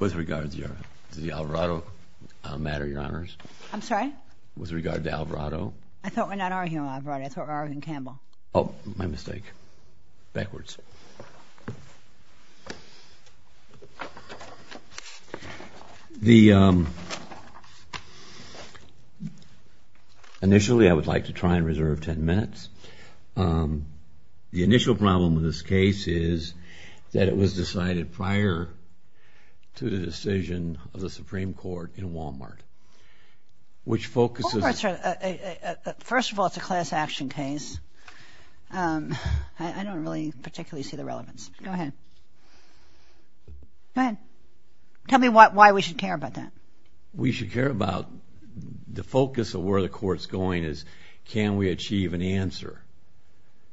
With regard to the Alvarado matter, Your Honors. I'm sorry? With regard to Alvarado. I thought we're not arguing Alvarado, I thought we were arguing Campbell. Oh, my mistake. Backwards. Initially, I would like to try and reserve 10 minutes. The initial problem with this case is that it was decided prior to the decision of the Supreme Court in Walmart, which focuses... I don't really particularly see the relevance. Go ahead. Go ahead. Tell me why we should care about that. We should care about the focus of where the court's going is, can we achieve an answer?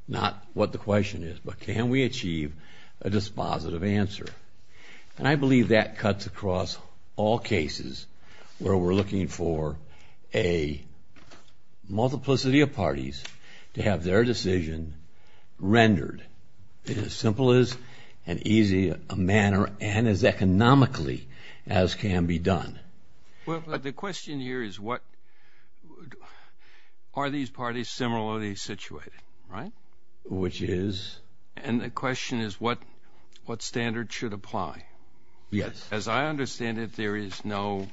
Not what the question is, but can we achieve a dispositive answer? And I believe that cuts across all cases where we're looking for a multiplicity of parties to have their decision rendered in as simple as and easy a manner and as economically as can be done. Well, the question here is what, are these parties similarly situated, right? Which is? And the question is what standard should apply? Yes. As I understand it, there is no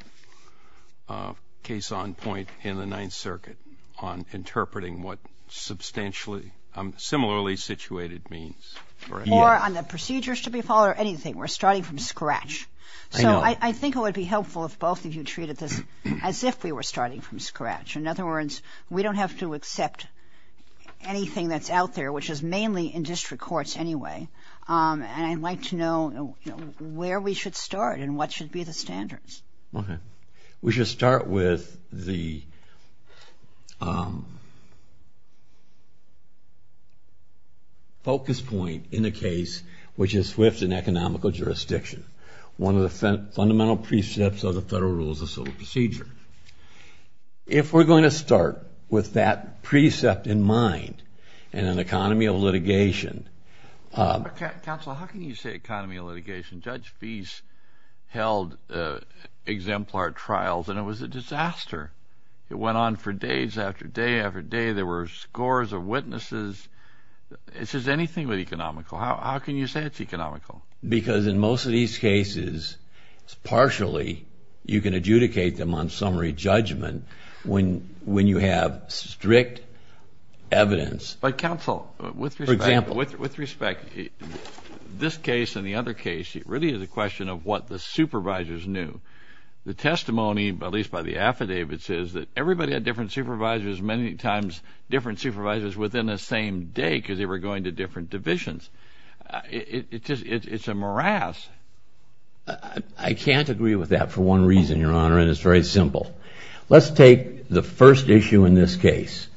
case on point in the Ninth Circuit on interpreting what substantially, similarly situated means, correct? Yes. Or on the procedures to be followed or anything. We're starting from scratch. So I think it would be helpful if both of you treated this as if we were starting from scratch. In other words, we don't have to accept anything that's out there, which is mainly in district courts anyway. And I'd like to know where we should start and what should be the standards. We should start with the focus point in the case, which is swift and economical jurisdiction. One of the fundamental precepts of the Federal Rules of Civil Procedure. If we're going to start with that precept in mind and an economy of litigation... Counsel, how can you say economy of litigation? Judge Fees held exemplar trials and it was a disaster. It went on for days after day after day. There were scores of witnesses. This is anything but economical. How can you say it's economical? Because in most of these cases, partially, you can adjudicate them on summary judgment when you have strict evidence. But counsel, with respect, this case and the other case, it really is a question of what the supervisors knew. The testimony, at least by the affidavits, is that everybody had different supervisors, many times different supervisors within the same day because they were going to different divisions. It's a morass. I can't agree with that for one reason, Your Honor, and it's very simple. Let's take the first issue in this case.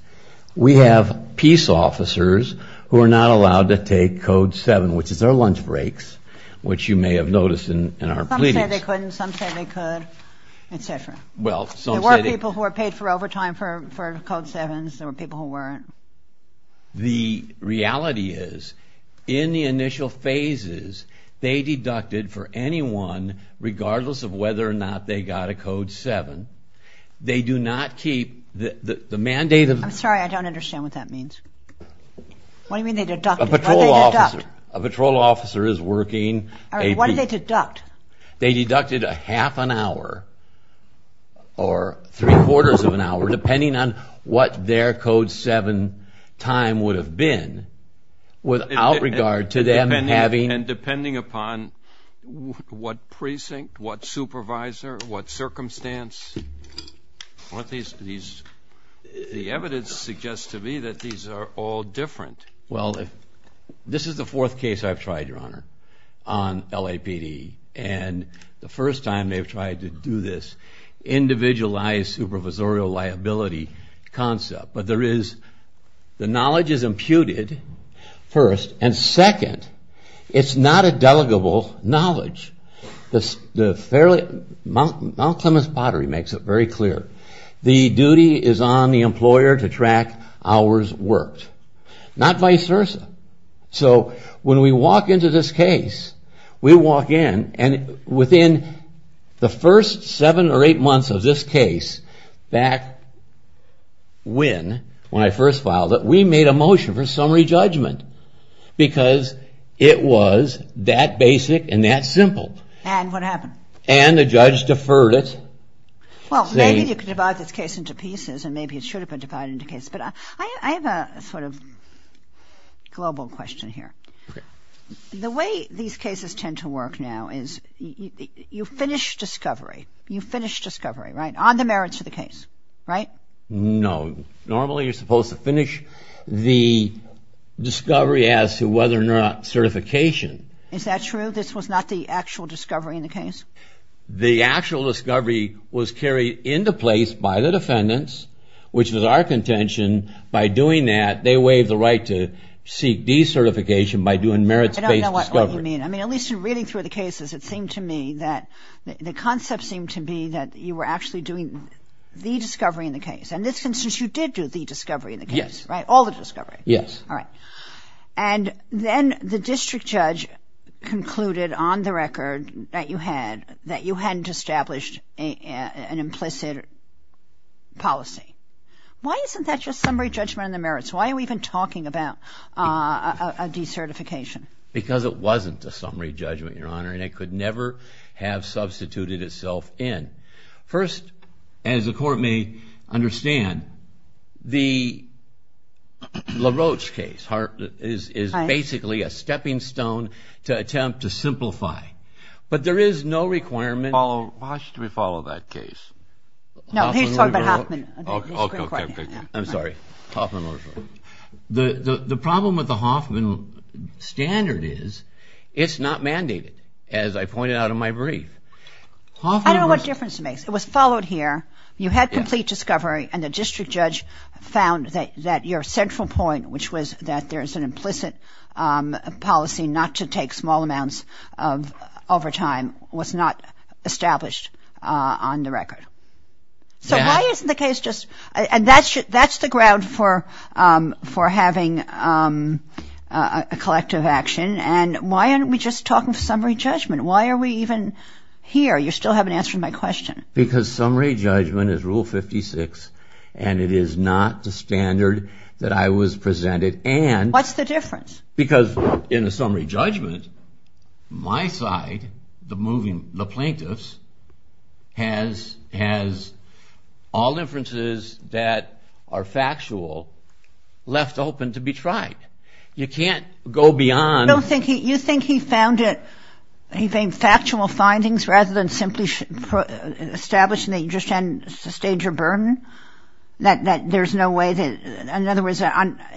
We have peace officers who are not allowed to take Code 7, which is their lunch breaks, which you may have noticed in our pleadings. Some say they couldn't, some say they could, etc. There were people who were paid overtime for Code 7s, there were people who weren't. The reality is, in the initial phases, they deducted for anyone, regardless of whether or not they got a Code 7, they do not keep the mandate of... I'm sorry, I don't understand what that means. What do you mean they deducted? A patrol officer is working... All right, what did they deduct? They deducted a half an hour or three-quarters of an hour, depending on what their Code 7 time would have been, without regard to them having... And depending upon what precinct, what supervisor, what circumstance. The evidence suggests to me that these are all different. Well, this is the fourth case I've tried, Your Honor, on LAPD, and the first time they've tried to do this individualized supervisorial liability concept. But the knowledge is imputed, first, and second, it's not a delegable knowledge. Mount Clements Pottery makes it very clear. The duty is on the employer to track hours worked, not vice versa. So when we walk into this case, we walk in, and within the first seven or eight months of this case, back when, when I first filed it, we made a motion for summary judgment. Because it was that basic and that simple. And what happened? And the judge deferred it. Well, maybe you could divide this case into pieces, and maybe it should have been divided into cases. But I have a sort of global question here. Okay. The way these cases tend to work now is you finish discovery. You finish discovery, right, on the merits of the case, right? No. Normally, you're supposed to finish the discovery as to whether or not certification... Is that true? This was not the actual discovery in the case? The actual discovery was carried into place by the defendants, which was our contention. By doing that, they waived the right to seek decertification by doing merits-based discovery. I don't know what you mean. I mean, at least in reading through the cases, it seemed to me that the concept seemed to be that you were actually doing the discovery in the case. And this constitutes you did do the discovery in the case, right? Yes. All the discovery. Yes. All right. And then the district judge concluded on the record that you hadn't established an implicit policy. Why isn't that just summary judgment on the merits? Why are we even talking about a decertification? Because it wasn't a summary judgment, Your Honor, and it could never have substituted itself in. First, as the Court may understand, the LaRoche case is basically a stepping stone to attempt to simplify. But there is no requirement... How should we follow that case? No, please talk about Hoffman. Okay. I'm sorry. Hoffman LaRoche. The problem with the Hoffman standard is it's not mandated, as I pointed out in my brief. I don't know what difference it makes. It was followed here. You had complete discovery, and the district judge found that your central point, which was that there is an implicit policy not to take small amounts over time, was not established on the record. So why isn't the case just... And that's the ground for having a collective action. And why aren't we just talking summary judgment? Why are we even here? You still haven't answered my question. Because summary judgment is Rule 56, and it is not the standard that I was presented, and... What's the difference? Because in the summary judgment, my side, the plaintiffs, has all inferences that are factual left open to be tried. You can't go beyond... You don't think he... You think he found it... He found factual findings rather than simply establishing that you just hadn't sustained your burden? That there's no way that... In other words,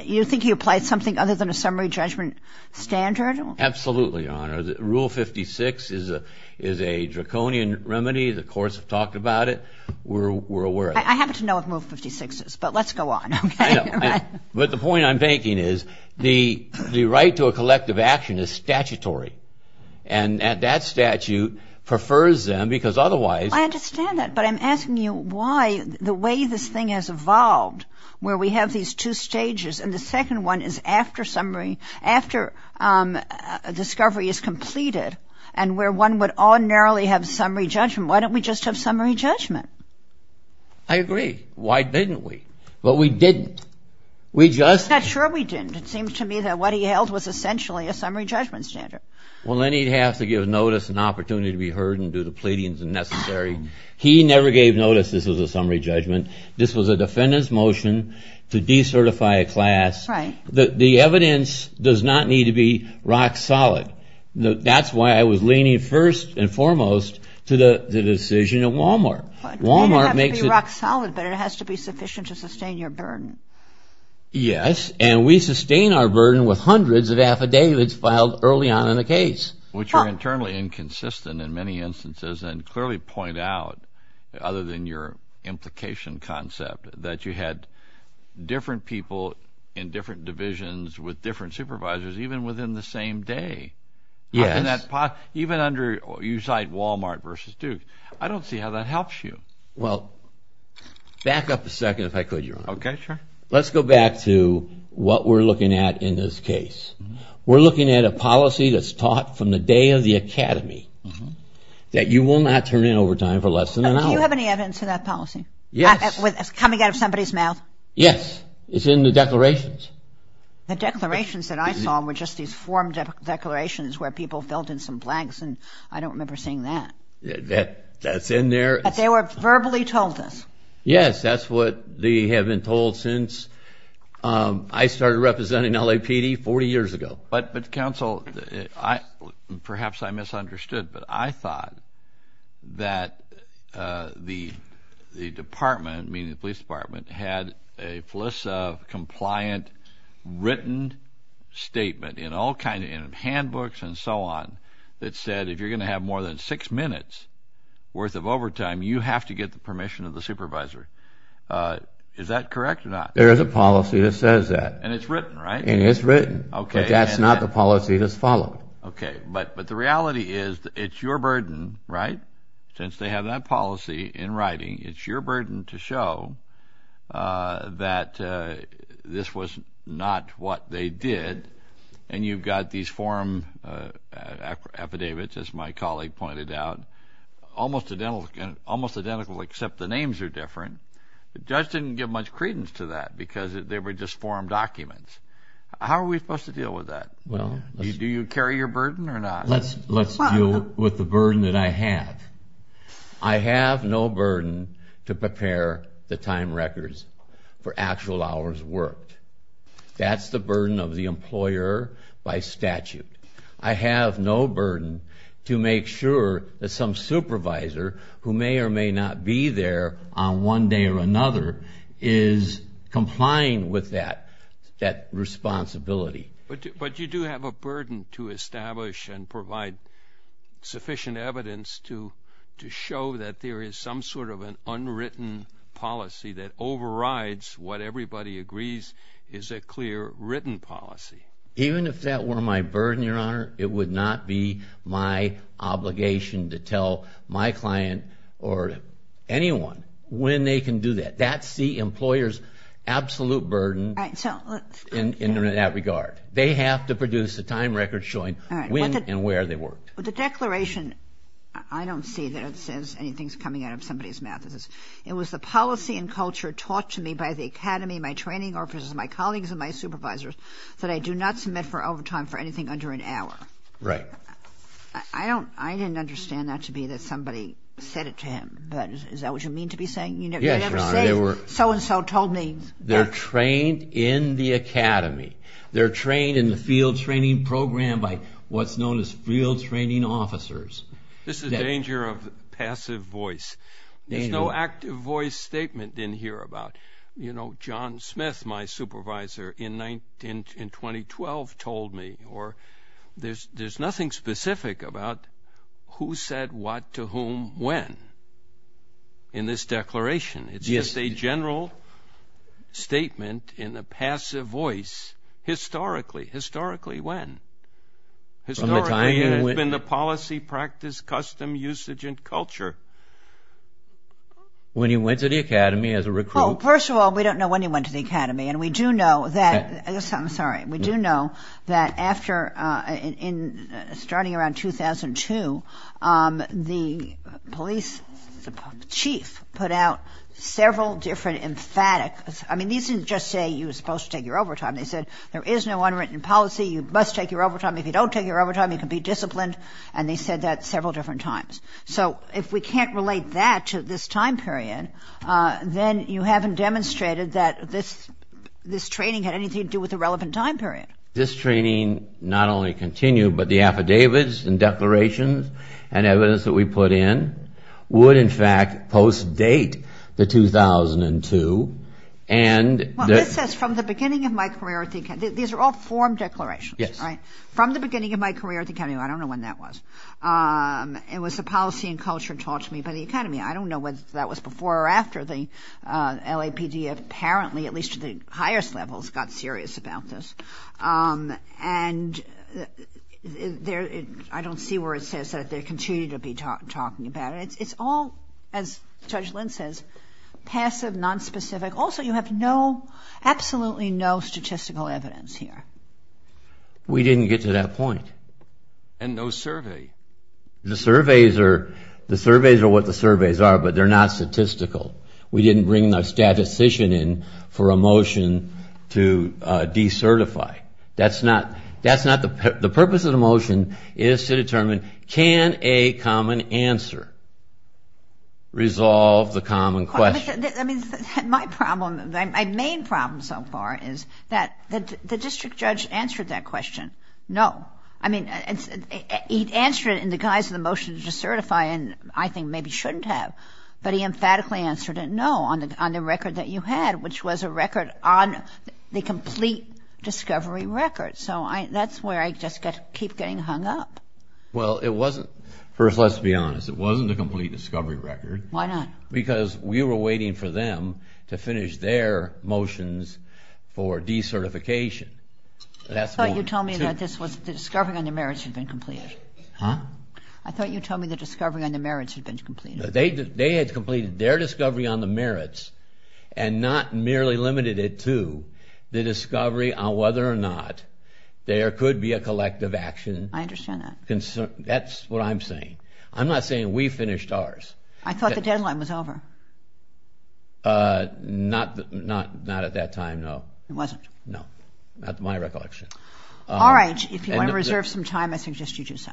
you think he applied something other than a summary judgment standard? Absolutely, Your Honor. Rule 56 is a draconian remedy. The courts have talked about it. We're aware of it. I happen to know what Rule 56 is, but let's go on, okay? But the point I'm making is the right to a collective action is statutory. And that statute prefers them because otherwise... I understand that, but I'm asking you why, the way this thing has evolved, where we have these two stages, and the second one is after discovery is completed, and where one would ordinarily have summary judgment. Why don't we just have summary judgment? I agree. Why didn't we? Well, we didn't. We just... I'm not sure we didn't. It seems to me that what he held was essentially a summary judgment standard. Well, then he'd have to give notice and opportunity to be heard and do the pleadings necessary. He never gave notice this was a summary judgment. This was a defendant's motion to decertify a class. Right. The evidence does not need to be rock solid. That's why I was leaning first and foremost to the decision at Walmart. It doesn't have to be rock solid, but it has to be sufficient to sustain your burden. Yes, and we sustain our burden with hundreds of affidavits filed early on in a case. Which are internally inconsistent in many instances and clearly point out, other than your implication concept, that you had different people in different divisions with different supervisors even within the same day. Yes. Even under you cite Walmart versus Duke. I don't see how that helps you. Well, back up a second if I could, Your Honor. Okay, sure. Let's go back to what we're looking at in this case. We're looking at a policy that's taught from the day of the academy that you will not turn in overtime for less than an hour. Do you have any evidence of that policy? Yes. Coming out of somebody's mouth? Yes. It's in the declarations. The declarations that I saw were just these form declarations where people filled in some blanks, and I don't remember seeing that. That's in there. But they were verbally told this. Yes, that's what they have been told since I started representing LAPD 40 years ago. But, counsel, perhaps I misunderstood, but I thought that the department, meaning the police department, had a FLISA-compliant written statement in all kind of handbooks and so on that said if you're going to have more than six minutes worth of overtime, you have to get the permission of the supervisor. Is that correct or not? There is a policy that says that. And it's written. Okay. But that's not the policy that's followed. Okay. But the reality is it's your burden, right? Since they have that policy in writing, it's your burden to show that this was not what they did. And you've got these form affidavits, as my colleague pointed out, almost identical except the names are different. The judge didn't give much credence to that because they were just form documents. How are we supposed to deal with that? Do you carry your burden or not? Let's deal with the burden that I have. I have no burden to prepare the time records for actual hours worked. That's the burden of the employer by statute. I have no burden to make sure that some supervisor, who may or may not be there on one day or another, is complying with that responsibility. But you do have a burden to establish and provide sufficient evidence to show that there is some sort of an unwritten policy that overrides what everybody agrees is a clear written policy. Even if that were my burden, Your Honor, it would not be my obligation to tell my client or anyone when they can do that. That's the employer's absolute burden in that regard. They have to produce a time record showing when and where they worked. But the declaration, I don't see that it says anything's coming out of somebody's mouth. It was the policy and culture taught to me by the academy, my training officers, my colleagues, and my supervisors that I do not submit for overtime for anything under an hour. Right. I didn't understand that to be that somebody said it to him. Is that what you mean to be saying? Yes, Your Honor. You never say so-and-so told me that. They're trained in the academy. They're trained in the field training program by what's known as field training officers. This is the danger of passive voice. There's no active voice statement in here about, you know, John Smith, my supervisor, in 2012 told me. There's nothing specific about who said what to whom when in this declaration. It's just a general statement in a passive voice, historically. Historically, when? Historically, it's been the policy, practice, custom, usage, and culture. When he went to the academy as a recruit. First of all, we don't know when he went to the academy. And we do know that starting around 2002, the police chief put out several different emphatics. I mean, these didn't just say you were supposed to take your overtime. They said there is no unwritten policy. You must take your overtime. If you don't take your overtime, you can be disciplined. And they said that several different times. So if we can't relate that to this time period, then you haven't demonstrated that this training had anything to do with the relevant time period. This training not only continued, but the affidavits and declarations and evidence that we put in would, in fact, post-date the 2002. And this is from the beginning of my career at the academy. These are all form declarations, right? Yes. From the beginning of my career at the academy. I don't know when that was. It was the policy and culture taught to me by the academy. I don't know whether that was before or after the LAPD apparently, at least to the highest levels, got serious about this. And I don't see where it says that they continue to be talking about it. It's all, as Judge Lynn says, passive, nonspecific. Also, you have no, absolutely no statistical evidence here. We didn't get to that point. And no survey. The surveys are what the surveys are, but they're not statistical. We didn't bring a statistician in for a motion to decertify. The purpose of the motion is to determine, can a common answer resolve the common question? My problem, my main problem so far is that the district judge answered that question, no. I mean, he answered it in the guise of the motion to decertify and I think maybe shouldn't have. But he emphatically answered it, no, on the record that you had, which was a record on the complete discovery record. So that's where I just keep getting hung up. Well, it wasn't. First, let's be honest. It wasn't a complete discovery record. Why not? Because we were waiting for them to finish their motions for decertification. I thought you told me that this was the discovery on the merits had been completed. Huh? I thought you told me the discovery on the merits had been completed. They had completed their discovery on the merits and not merely limited it to the discovery on whether or not there could be a collective action. I understand that. That's what I'm saying. I'm not saying we finished ours. I thought the deadline was over. Not at that time, no. It wasn't? No. Not to my recollection. All right. If you want to reserve some time, I suggest you do so.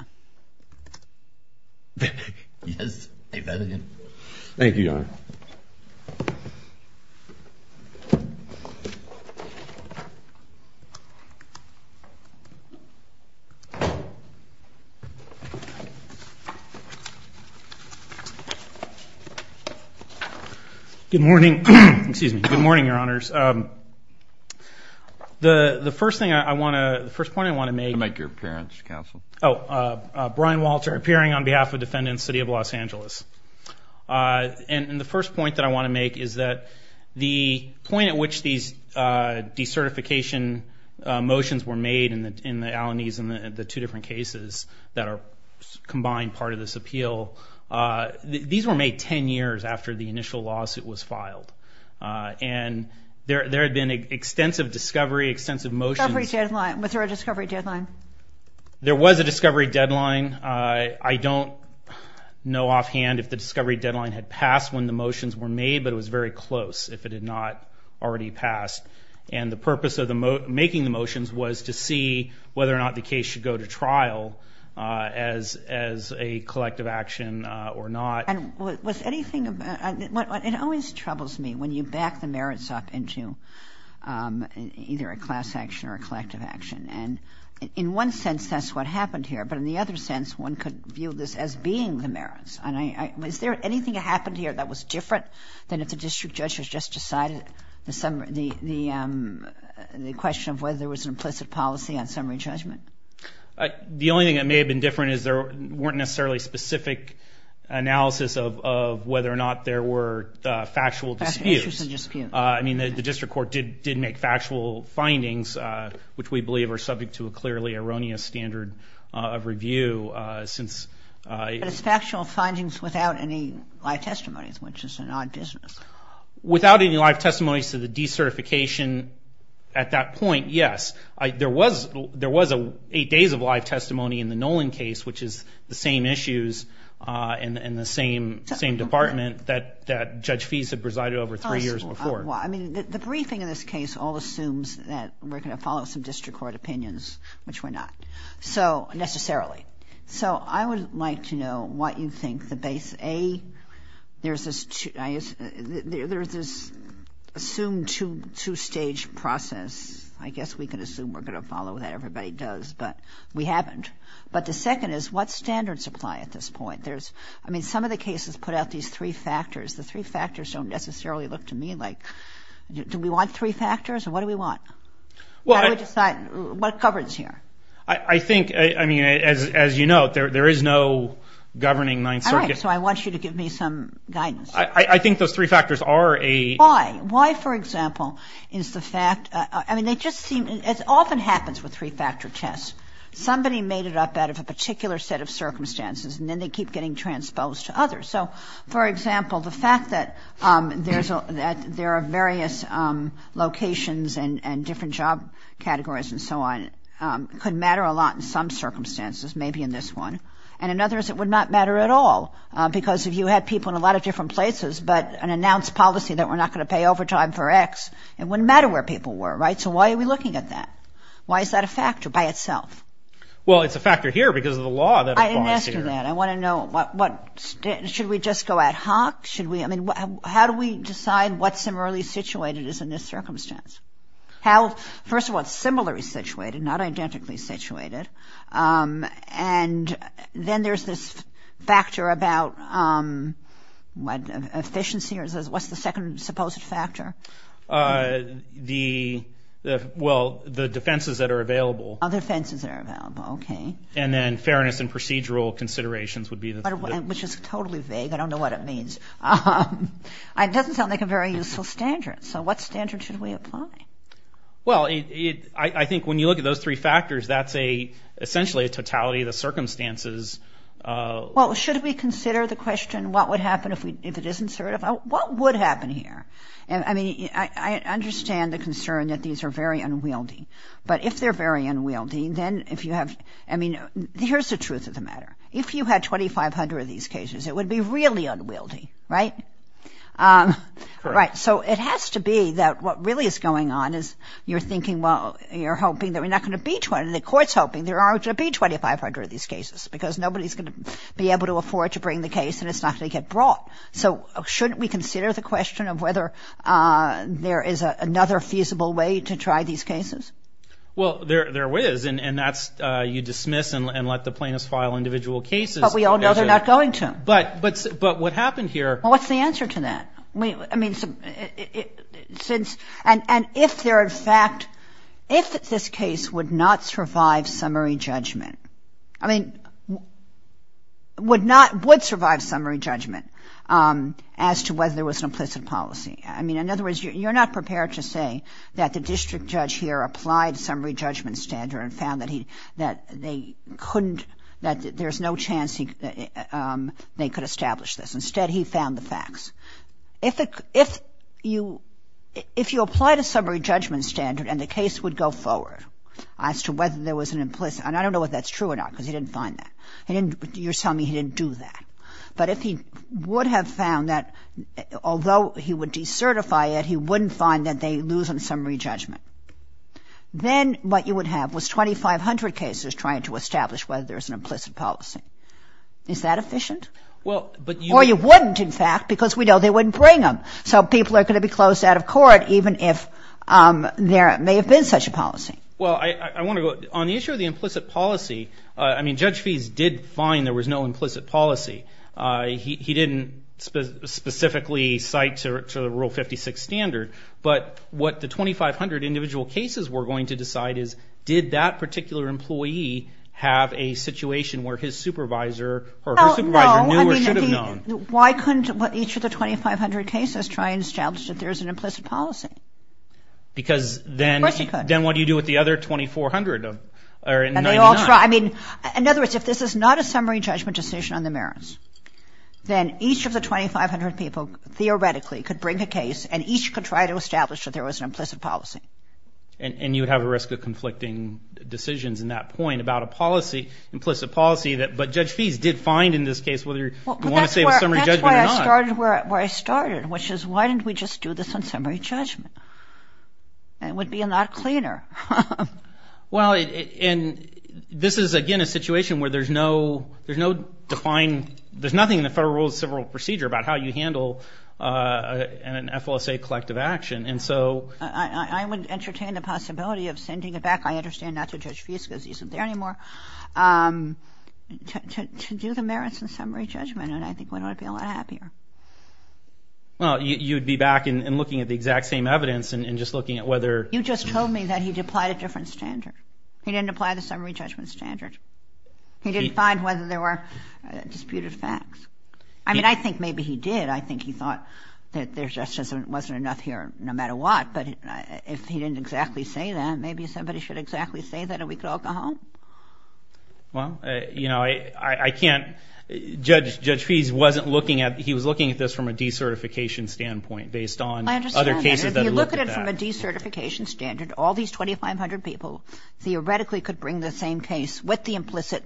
Yes. Thank you, Your Honor. Good morning. Excuse me. Good morning, Your Honors. The first thing I want to, the first point I want to make. Make your appearance, Counsel. Oh, Brian Walter, appearing on behalf of defendants, City of Los Angeles. And the first point that I want to make is that the point at which these decertification motions were made in the Allenies and the two different cases that are combined part of this appeal, these were made 10 years after the initial lawsuit was filed. And there had been extensive discovery, extensive motions. Was there a discovery deadline? There was a discovery deadline. I don't know offhand if the discovery deadline had passed when the motions were made, but it was very close if it had not already passed. And the purpose of making the motions was to see whether or not the case should go to trial as a collective action or not. And was anything, it always troubles me when you back the merits up into either a class action or a collective action. And in one sense, that's what happened here. But in the other sense, one could view this as being the merits. Is there anything that happened here that was different than if the district judge has just decided the question of whether there was an implicit policy on summary judgment? The only thing that may have been different is there weren't necessarily specific analysis of whether or not there were factual disputes. I mean, the district court did make factual findings, which we believe are subject to a clearly erroneous standard of review. But it's factual findings without any live testimonies, which is an odd business. Without any live testimonies to the decertification at that point, yes. There was eight days of live testimony in the Nolan case, which is the same issues in the same department that Judge Feese had presided over three years before. Well, I mean, the briefing in this case all assumes that we're going to follow some district court opinions, which we're not. Necessarily. So I would like to know what you think the base, A, there's this assumed two-stage process. I guess we can assume we're going to follow what everybody does, but we haven't. But the second is, what standards apply at this point? I mean, some of the cases put out these three factors. The three factors don't necessarily look to me like, do we want three factors, or what do we want? How do we decide what governs here? I think, I mean, as you know, there is no governing Ninth Circuit. All right, so I want you to give me some guidance. I think those three factors are a. Why? Why, for example, is the fact, I mean, they just seem, it often happens with three-factor tests. Somebody made it up out of a particular set of circumstances, and then they keep getting transposed to others. So, for example, the fact that there are various locations and different job categories and so on, could matter a lot in some circumstances, maybe in this one. And in others, it would not matter at all, because if you had people in a lot of different places, but an announced policy that we're not going to pay overtime for X, it wouldn't matter where people were, right? So why are we looking at that? Why is that a factor by itself? Well, it's a factor here because of the law that applies here. I didn't ask you that. I want to know, should we just go ad hoc? I mean, how do we decide what similarly situated is in this circumstance? First of all, similarly situated, not identically situated. And then there's this factor about efficiency. What's the second supposed factor? Well, the defenses that are available. Oh, the defenses that are available, okay. And then fairness and procedural considerations would be the third one. Which is totally vague. I don't know what it means. It doesn't sound like a very useful standard. So what standard should we apply? Well, I think when you look at those three factors, that's essentially a totality of the circumstances. Well, should we consider the question what would happen if it isn't certified? What would happen here? I mean, I understand the concern that these are very unwieldy. But if they're very unwieldy, then if you have ‑‑ I mean, here's the truth of the matter. If you had 2,500 of these cases, it would be really unwieldy, right? Right. So it has to be that what really is going on is you're thinking, well, you're hoping that we're not going to be 20. The court's hoping there aren't going to be 2,500 of these cases because nobody's going to be able to afford to bring the case and it's not going to get brought. So shouldn't we consider the question of whether there is another feasible way to try these cases? Well, there is, and that's you dismiss and let the plaintiffs file individual cases. But we all know they're not going to. But what happened here? Well, what's the answer to that? I mean, since ‑‑ and if they're in fact ‑‑ if this case would not survive summary judgment. I mean, would not ‑‑ would survive summary judgment as to whether there was an implicit policy. I mean, in other words, you're not prepared to say that the district judge here applied summary judgment standard and found that they couldn't ‑‑ that there's no chance they could establish this. Instead, he found the facts. If you applied a summary judgment standard and the case would go forward as to whether there was an implicit and I don't know if that's true or not because he didn't find that. He didn't ‑‑ you're telling me he didn't do that. But if he would have found that although he would decertify it, he wouldn't find that they lose on summary judgment. Then what you would have was 2,500 cases trying to establish whether there's an implicit policy. Is that efficient? Well, but you ‑‑ Or you wouldn't in fact because we know they wouldn't bring them. So people are going to be closed out of court even if there may have been such a policy. Well, I want to go ‑‑ on the issue of the implicit policy, I mean, Judge Feese did find there was no implicit policy. He didn't specifically cite to the Rule 56 standard. But what the 2,500 individual cases were going to decide is did that particular employee have a situation where his supervisor or her supervisor knew or should have known. Well, no, I mean, why couldn't each of the 2,500 cases try and establish that there's an implicit policy? Because then what do you do with the implicit policy? What do you do with the other 2,400 or 99? I mean, in other words, if this is not a summary judgment decision on the merits, then each of the 2,500 people theoretically could bring a case and each could try to establish that there was an implicit policy. And you would have a risk of conflicting decisions in that point about a policy, implicit policy, but Judge Feese did find in this case whether you want to say it was summary judgment or not. That's where I started, which is why didn't we just do this on summary judgment? It would be a lot cleaner. Well, and this is, again, a situation where there's no defined, there's nothing in the Federal Rules of Civil Procedure about how you handle an FLSA collective action. And so I would entertain the possibility of sending it back, I understand, not to Judge Feese because he isn't there anymore, to do the merits and summary judgment. And I think we'd all be a lot happier. Well, you'd be back and looking at the exact same evidence and just looking at whether— You just told me that he'd applied a different standard. He didn't apply the summary judgment standard. He didn't find whether there were disputed facts. I mean, I think maybe he did. I think he thought that there just wasn't enough here no matter what. But if he didn't exactly say that, maybe somebody should exactly say that and we could all go home. Well, you know, I can't—Judge Feese wasn't looking at—he was looking at this from a decertification standpoint based on other cases that looked at that. I understand that. If you look at it from a decertification standard, all these 2,500 people theoretically could bring the same case with the implicit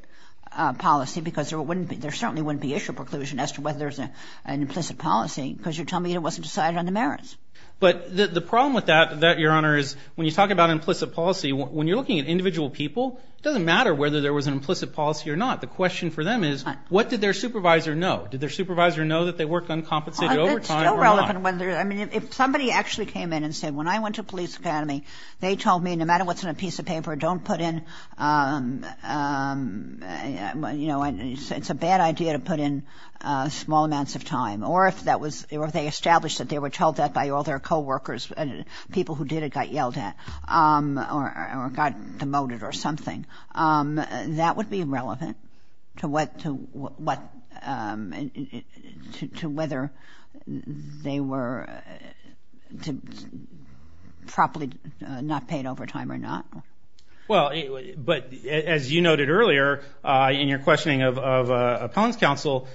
policy because there certainly wouldn't be issue preclusion as to whether there's an implicit policy because you're telling me it wasn't decided on the merits. But the problem with that, Your Honor, is when you talk about implicit policy, when you're looking at individual people, it doesn't matter whether there was an implicit policy or not. The question for them is what did their supervisor know? Did their supervisor know that they worked uncompensated overtime or not? It's still relevant whether—I mean, if somebody actually came in and said, when I went to police academy, they told me no matter what's in a piece of paper, don't put in— you know, it's a bad idea to put in small amounts of time or if that was—or if they established that they were told that by all their coworkers and people who did it got yelled at or got demoted or something, that would be relevant to whether they were properly not paid overtime or not. Well, but as you noted earlier in your questioning of appellant's counsel,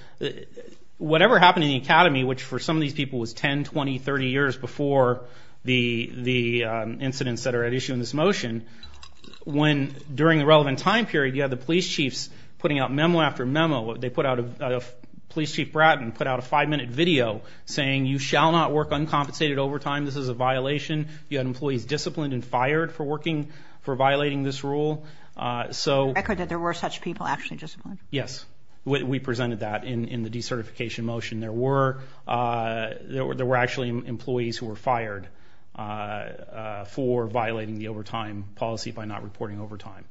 whatever happened in the academy, which for some of these people was 10, 20, 30 years before the incidents that are at issue in this motion, when during the relevant time period you had the police chiefs putting out memo after memo, they put out a—Police Chief Bratton put out a five-minute video saying, you shall not work uncompensated overtime. This is a violation. You had employees disciplined and fired for working—for violating this rule. Record that there were such people actually disciplined. Yes. We presented that in the decertification motion. There were actually employees who were fired for violating the overtime policy by not reporting overtime.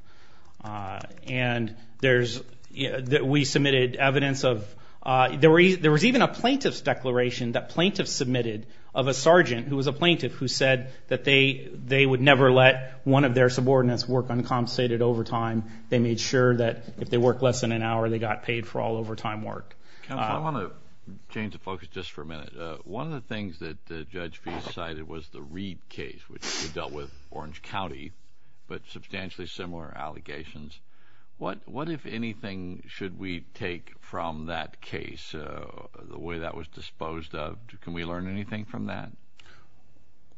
And there's—we submitted evidence of—there was even a plaintiff's declaration that plaintiffs submitted of a sergeant, who was a plaintiff, who said that they would never let one of their subordinates work uncompensated overtime. They made sure that if they worked less than an hour, they got paid for all overtime work. Counsel, I want to change the focus just for a minute. One of the things that Judge Feist cited was the Reed case, which dealt with Orange County, but substantially similar allegations. What, if anything, should we take from that case, the way that was disposed of? Can we learn anything from that?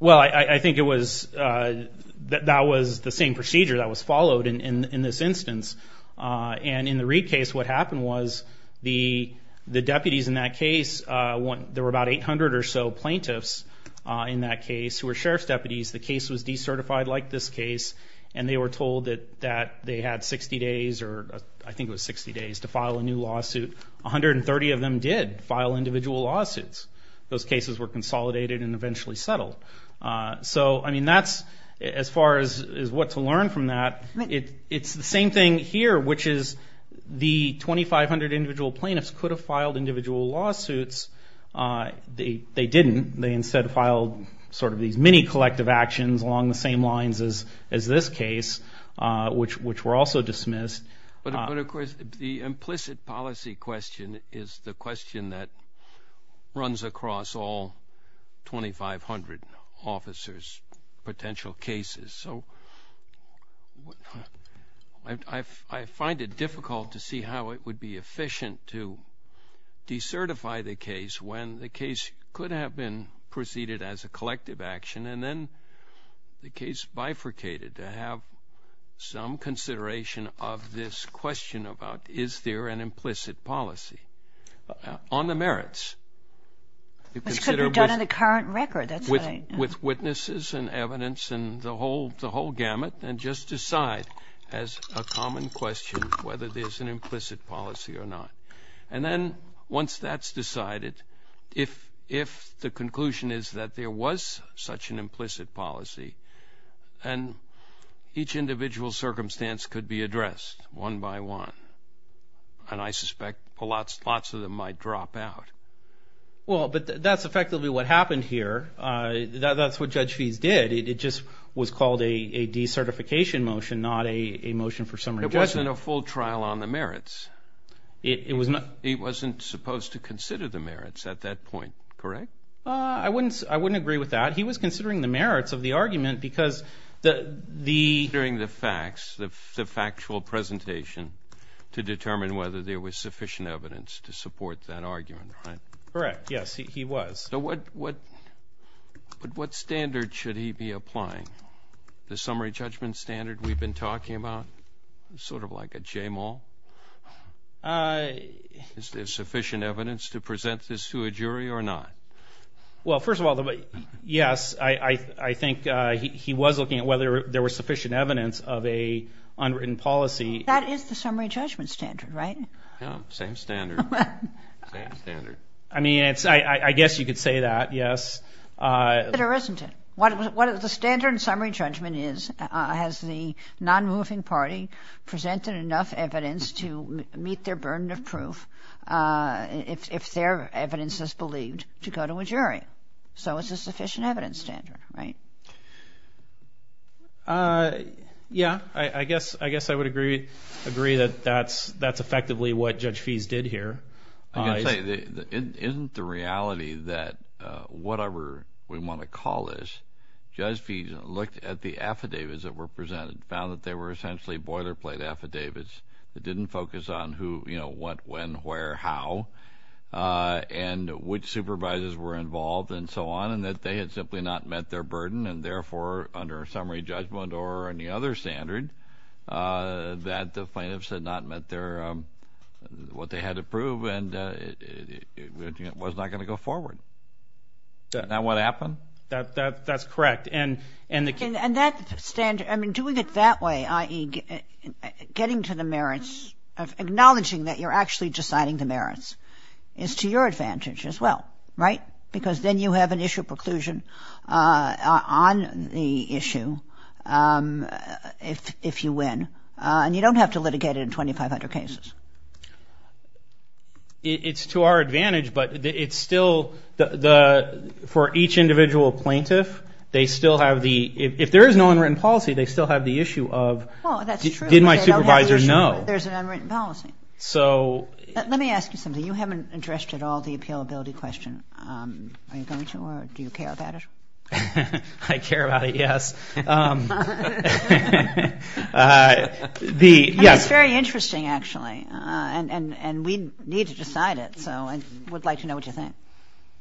Well, I think it was—that was the same procedure that was followed in this instance. And in the Reed case, what happened was the deputies in that case, there were about 800 or so plaintiffs in that case who were sheriff's deputies. The case was decertified like this case, and they were told that they had 60 days, or I think it was 60 days, to file a new lawsuit. 130 of them did file individual lawsuits. Those cases were consolidated and eventually settled. So, I mean, that's—as far as what to learn from that, it's the same thing here, which is the 2,500 individual plaintiffs could have filed individual lawsuits. They didn't. They instead filed sort of these mini-collective actions along the same lines as this case, which were also dismissed. But, of course, the implicit policy question is the question that runs across all 2,500 officers' potential cases. So I find it difficult to see how it would be efficient to decertify the case when the case could have been preceded as a collective action, and then the case bifurcated to have some consideration of this question about, is there an implicit policy on the merits? Which could be done in the current record. With witnesses and evidence and the whole gamut, and just decide as a common question whether there's an implicit policy or not. And then once that's decided, if the conclusion is that there was such an implicit policy, then each individual circumstance could be addressed one by one. And I suspect lots of them might drop out. Well, but that's effectively what happened here. That's what Judge Fees did. It just was called a decertification motion, not a motion for summary judgment. It wasn't a full trial on the merits. It wasn't supposed to consider the merits at that point, correct? I wouldn't agree with that. He was considering the merits of the argument because the... Considering the facts, the factual presentation, to determine whether there was sufficient evidence to support that argument, right? Correct, yes, he was. So what standard should he be applying? The summary judgment standard we've been talking about? Sort of like a J-mall? Is there sufficient evidence to present this to a jury or not? Well, first of all, yes, I think he was looking at whether there was sufficient evidence of an unwritten policy. That is the summary judgment standard, right? Yeah, same standard. Same standard. I mean, I guess you could say that, yes. There isn't. The standard in summary judgment is, has the non-moving party presented enough evidence to meet their burden of proof if their evidence is believed to go to a jury? So it's a sufficient evidence standard, right? Yeah, I guess I would agree that that's effectively what Judge Fees did here. Isn't the reality that whatever we want to call this, Judge Fees looked at the affidavits that were presented and found that they were essentially boilerplate affidavits that didn't focus on who, you know, what, when, where, how, and which supervisors were involved and so on, and that they had simply not met their burden, and therefore under summary judgment or any other standard, that the plaintiffs had not met what they had to prove and it was not going to go forward. Isn't that what happened? That's correct. And that standard, I mean, doing it that way, i.e., getting to the merits, acknowledging that you're actually deciding the merits, is to your advantage as well, right? Because then you have an issue preclusion on the issue. If you win. And you don't have to litigate it in 2,500 cases. It's to our advantage, but it's still, for each individual plaintiff, they still have the, if there is no unwritten policy, they still have the issue of, did my supervisor know? There's an unwritten policy. Let me ask you something. You haven't addressed at all the appealability question. Are you going to or do you care about it? I care about it, yes. It's very interesting, actually, and we need to decide it. So I would like to know what you think.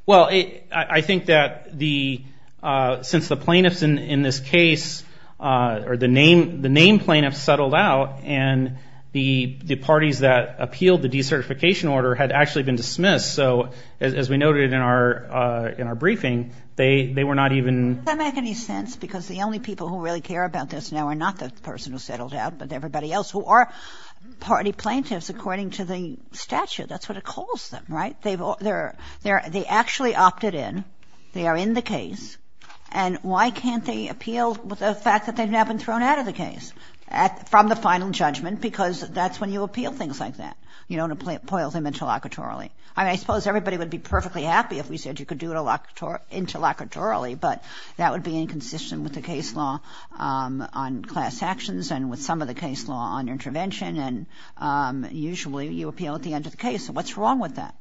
Well, I think that since the plaintiffs in this case, or the name plaintiffs settled out, and the parties that appealed the decertification order had actually been dismissed, so as we noted in our briefing, they were not even. Does that make any sense? Because the only people who really care about this now are not the person who settled out, but everybody else who are party plaintiffs according to the statute. That's what it calls them, right? They actually opted in. They are in the case. And why can't they appeal the fact that they've now been thrown out of the case from the final judgment? Because that's when you appeal things like that. You don't appoint them interlocutorily. I suppose everybody would be perfectly happy if we said you could do it interlocutorily, but that would be inconsistent with the case law on class actions and with some of the case law on intervention, and usually you appeal at the end of the case. What's wrong with that?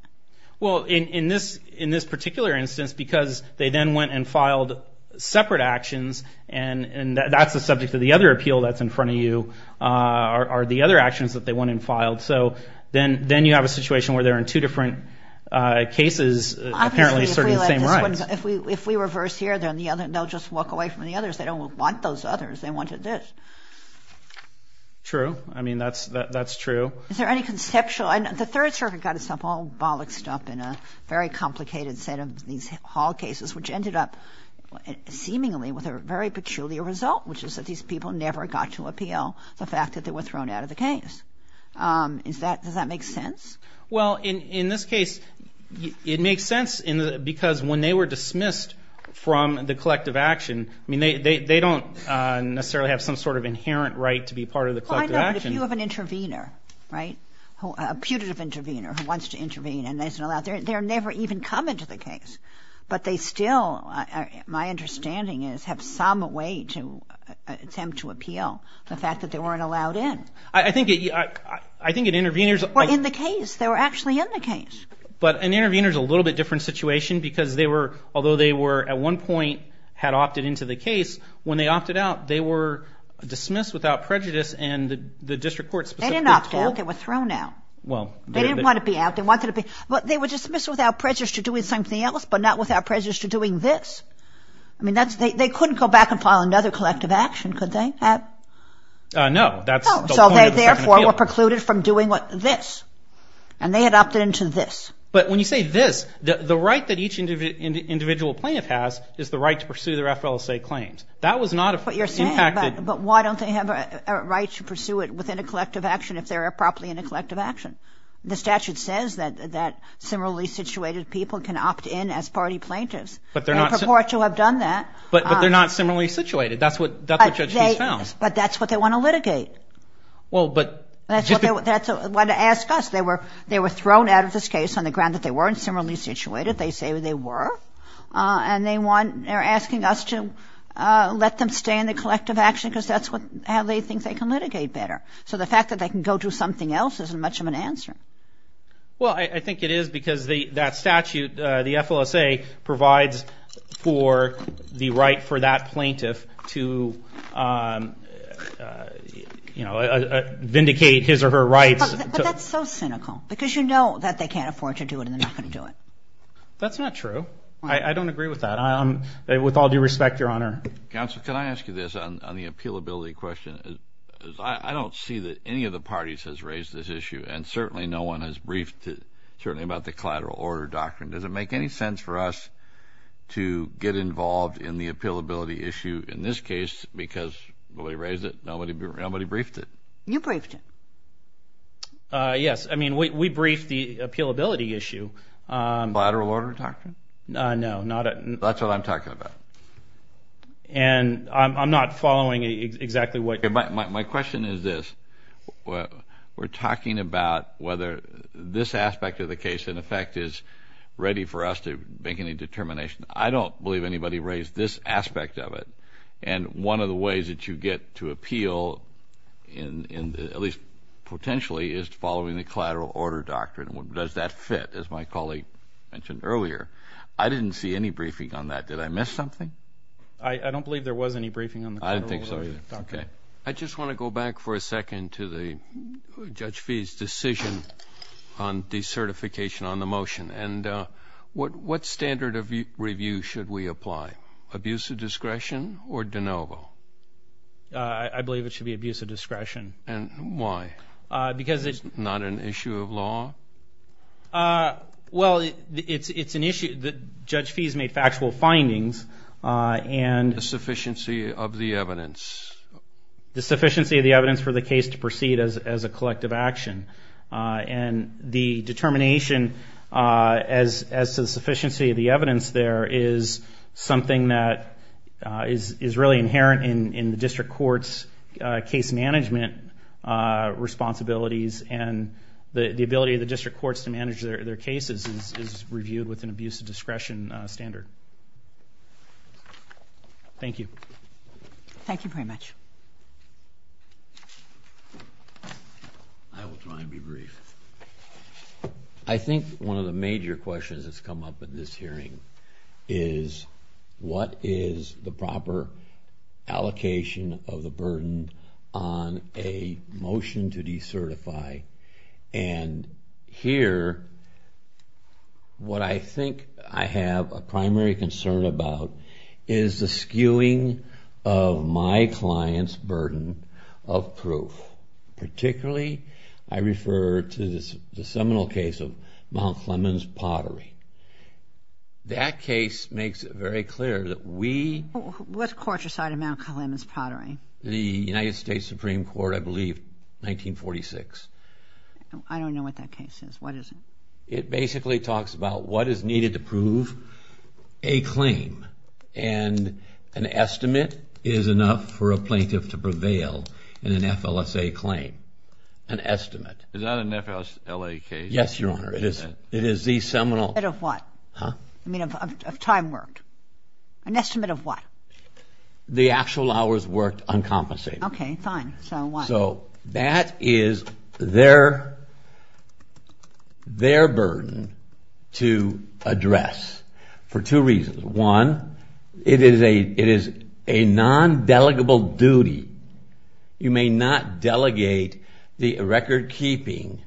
Well, in this particular instance, because they then went and filed separate actions, and that's the subject of the other appeal that's in front of you, are the other actions that they went and filed. So then you have a situation where they're in two different cases, apparently serving the same rights. Obviously, if we reverse here, they'll just walk away from the others. They don't want those others. They wanted this. True. I mean, that's true. Is there any conceptual? The Third Circuit got itself all bollocked up in a very complicated set of these Hall cases, which ended up seemingly with a very peculiar result, which is that these people never got to appeal the fact that they were thrown out of the case. Does that make sense? Well, in this case, it makes sense because when they were dismissed from the collective action, I mean, they don't necessarily have some sort of inherent right to be part of the collective action. Well, I know, but if you have an intervener, right, a putative intervener who wants to intervene and isn't allowed, they're never even coming to the case. But they still, my understanding is, have some way to attempt to appeal the fact that they weren't allowed in. I think an intervener is a little bit different situation because they were, although they were at one point, had opted into the case, when they opted out, they were dismissed without prejudice, and the district court specifically told. They didn't opt out. They were thrown out. They didn't want to be out. They wanted to be, but they were dismissed without prejudice to doing something else, but not without prejudice to doing this. I mean, that's, they couldn't go back and file another collective action, could they? No, that's the point of the second appeal. So they, therefore, were precluded from doing this. And they had opted into this. But when you say this, the right that each individual plaintiff has is the right to pursue their FLSA claims. That was not impacted. But you're saying, but why don't they have a right to pursue it within a collective action if they're properly in a collective action? The statute says that similarly situated people can opt in as party plaintiffs. But they're not. They purport to have done that. But they're not similarly situated. That's what Judge Keese found. But that's what they want to litigate. Well, but. That's what they want to ask us. They were thrown out of this case on the ground that they weren't similarly situated. They say they were. And they want, they're asking us to let them stay in the collective action because that's how they think they can litigate better. So the fact that they can go do something else isn't much of an answer. Well, I think it is because that statute, the FLSA, provides for the right for that plaintiff to vindicate his or her rights. But that's so cynical because you know that they can't afford to do it and they're not going to do it. That's not true. I don't agree with that. With all due respect, Your Honor. Counsel, can I ask you this on the appealability question? I don't see that any of the parties has raised this issue, and certainly no one has briefed certainly about the collateral order doctrine. Does it make any sense for us to get involved in the appealability issue in this case because nobody raised it, nobody briefed it? You briefed it. Yes. I mean, we briefed the appealability issue. Collateral order doctrine? No. That's what I'm talking about. And I'm not following exactly what you're saying. My question is this. We're talking about whether this aspect of the case, in effect, is ready for us to make any determination. I don't believe anybody raised this aspect of it. And one of the ways that you get to appeal, at least potentially, is following the collateral order doctrine. Does that fit, as my colleague mentioned earlier? I didn't see any briefing on that. Did I miss something? I don't believe there was any briefing on the collateral order doctrine. Okay. I just want to go back for a second to Judge Fee's decision on decertification on the motion. And what standard of review should we apply, abuse of discretion or de novo? I believe it should be abuse of discretion. And why? Because it's not an issue of law? Well, it's an issue that Judge Fee's made factual findings. The sufficiency of the evidence. The sufficiency of the evidence for the case to proceed as a collective action. And the determination as to the sufficiency of the evidence there is something that is really inherent in the district court's case management responsibilities. And the ability of the district courts to manage their cases is reviewed with an abuse of discretion standard. Thank you. Thank you very much. I will try and be brief. I think one of the major questions that's come up in this hearing is, what is the proper allocation of the burden on a motion to decertify? And here, what I think I have a primary concern about is the skewing of my client's burden of proof. Particularly, I refer to the seminal case of Mount Clemens Pottery. That case makes it very clear that we... What court decided Mount Clemens Pottery? The United States Supreme Court, I believe, 1946. I don't know what that case is. What is it? It basically talks about what is needed to prove a claim. And an estimate is enough for a plaintiff to prevail in an FLSA claim. An estimate. Is that an FLSA case? Yes, Your Honor. It is the seminal... An estimate of what? Huh? I mean, of time worked. An estimate of what? The actual hours worked uncompensated. Okay, fine. So what? So that is their burden to address for two reasons. One, it is a non-delegable duty. You may not delegate the record-keeping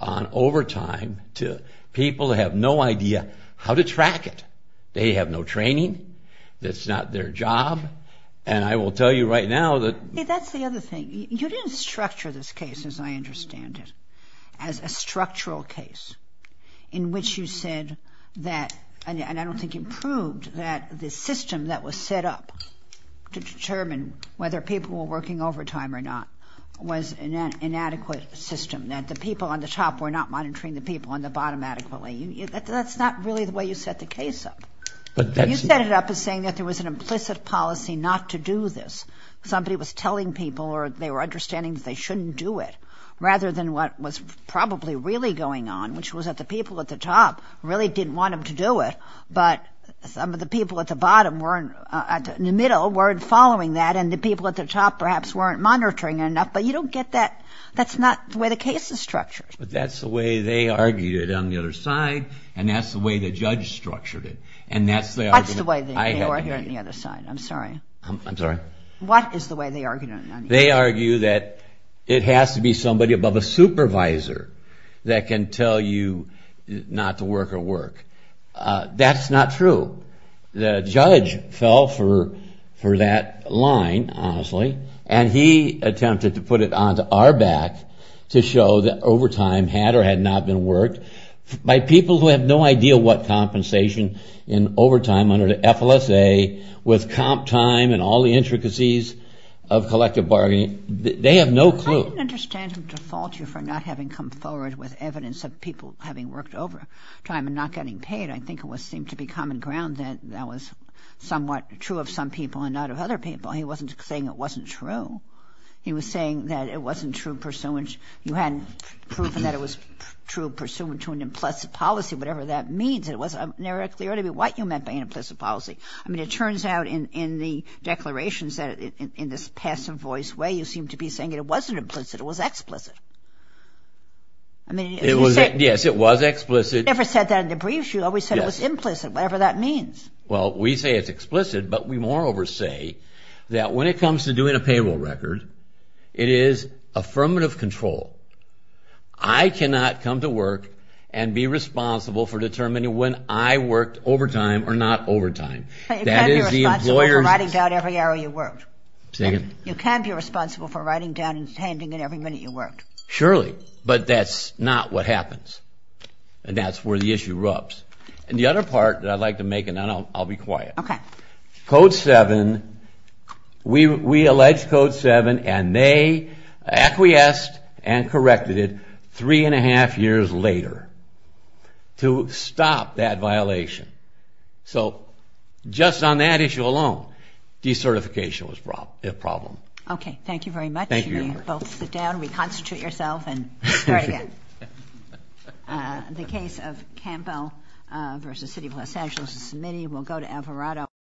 on overtime to people who have no idea how to track it. They have no training. It's not their job. And I will tell you right now that... You didn't structure this case, as I understand it, as a structural case, in which you said that, and I don't think you proved, that the system that was set up to determine whether people were working overtime or not was an inadequate system, that the people on the top were not monitoring the people on the bottom adequately. That's not really the way you set the case up. You set it up as saying that there was an implicit policy not to do this. Somebody was telling people, or they were understanding that they shouldn't do it, rather than what was probably really going on, which was that the people at the top really didn't want them to do it, but some of the people at the bottom weren't... in the middle weren't following that, and the people at the top perhaps weren't monitoring it enough, but you don't get that. That's not the way the case is structured. But that's the way they argued it on the other side, and that's the way the judge structured it, and that's the argument... That's the way they argued it on the other side. I'm sorry. What is the way they argued it on the other side? They argue that it has to be somebody above a supervisor that can tell you not to work or work. That's not true. The judge fell for that line, honestly, and he attempted to put it onto our back to show that overtime had or had not been worked by people who have no idea what compensation in overtime under the FLSA with comp time and all the intricacies of collective bargaining. They have no clue. I didn't understand him to fault you for not having come forward with evidence of people having worked overtime and not getting paid. I think it seemed to be common ground that that was somewhat true of some people and not of other people. He wasn't saying it wasn't true. He was saying that it wasn't true pursuant... You hadn't proven that it was true pursuant to an implicit policy, whatever that means. It wasn't very clear to me what you meant by an implicit policy. I mean, it turns out in the declarations that in this passive voice way you seem to be saying that it wasn't implicit, it was explicit. Yes, it was explicit. You never said that in the briefs. You always said it was implicit, whatever that means. Well, we say it's explicit, but we moreover say that when it comes to doing a payroll record, it is affirmative control. I cannot come to work and be responsible for determining when I worked overtime or not overtime. You can't be responsible for writing down every hour you worked. You can't be responsible for writing down and handing in every minute you worked. Surely, but that's not what happens, and that's where the issue rubs. And the other part that I'd like to make, and then I'll be quiet. Code 7, we allege Code 7, and they acquiesced and corrected it three and a half years later to stop that violation. So just on that issue alone, decertification was a problem. Okay, thank you very much. Thank you. You may both sit down, reconstitute yourself, and start again. The case of Campbell v. City of Los Angeles, the committee will go to Alvarado.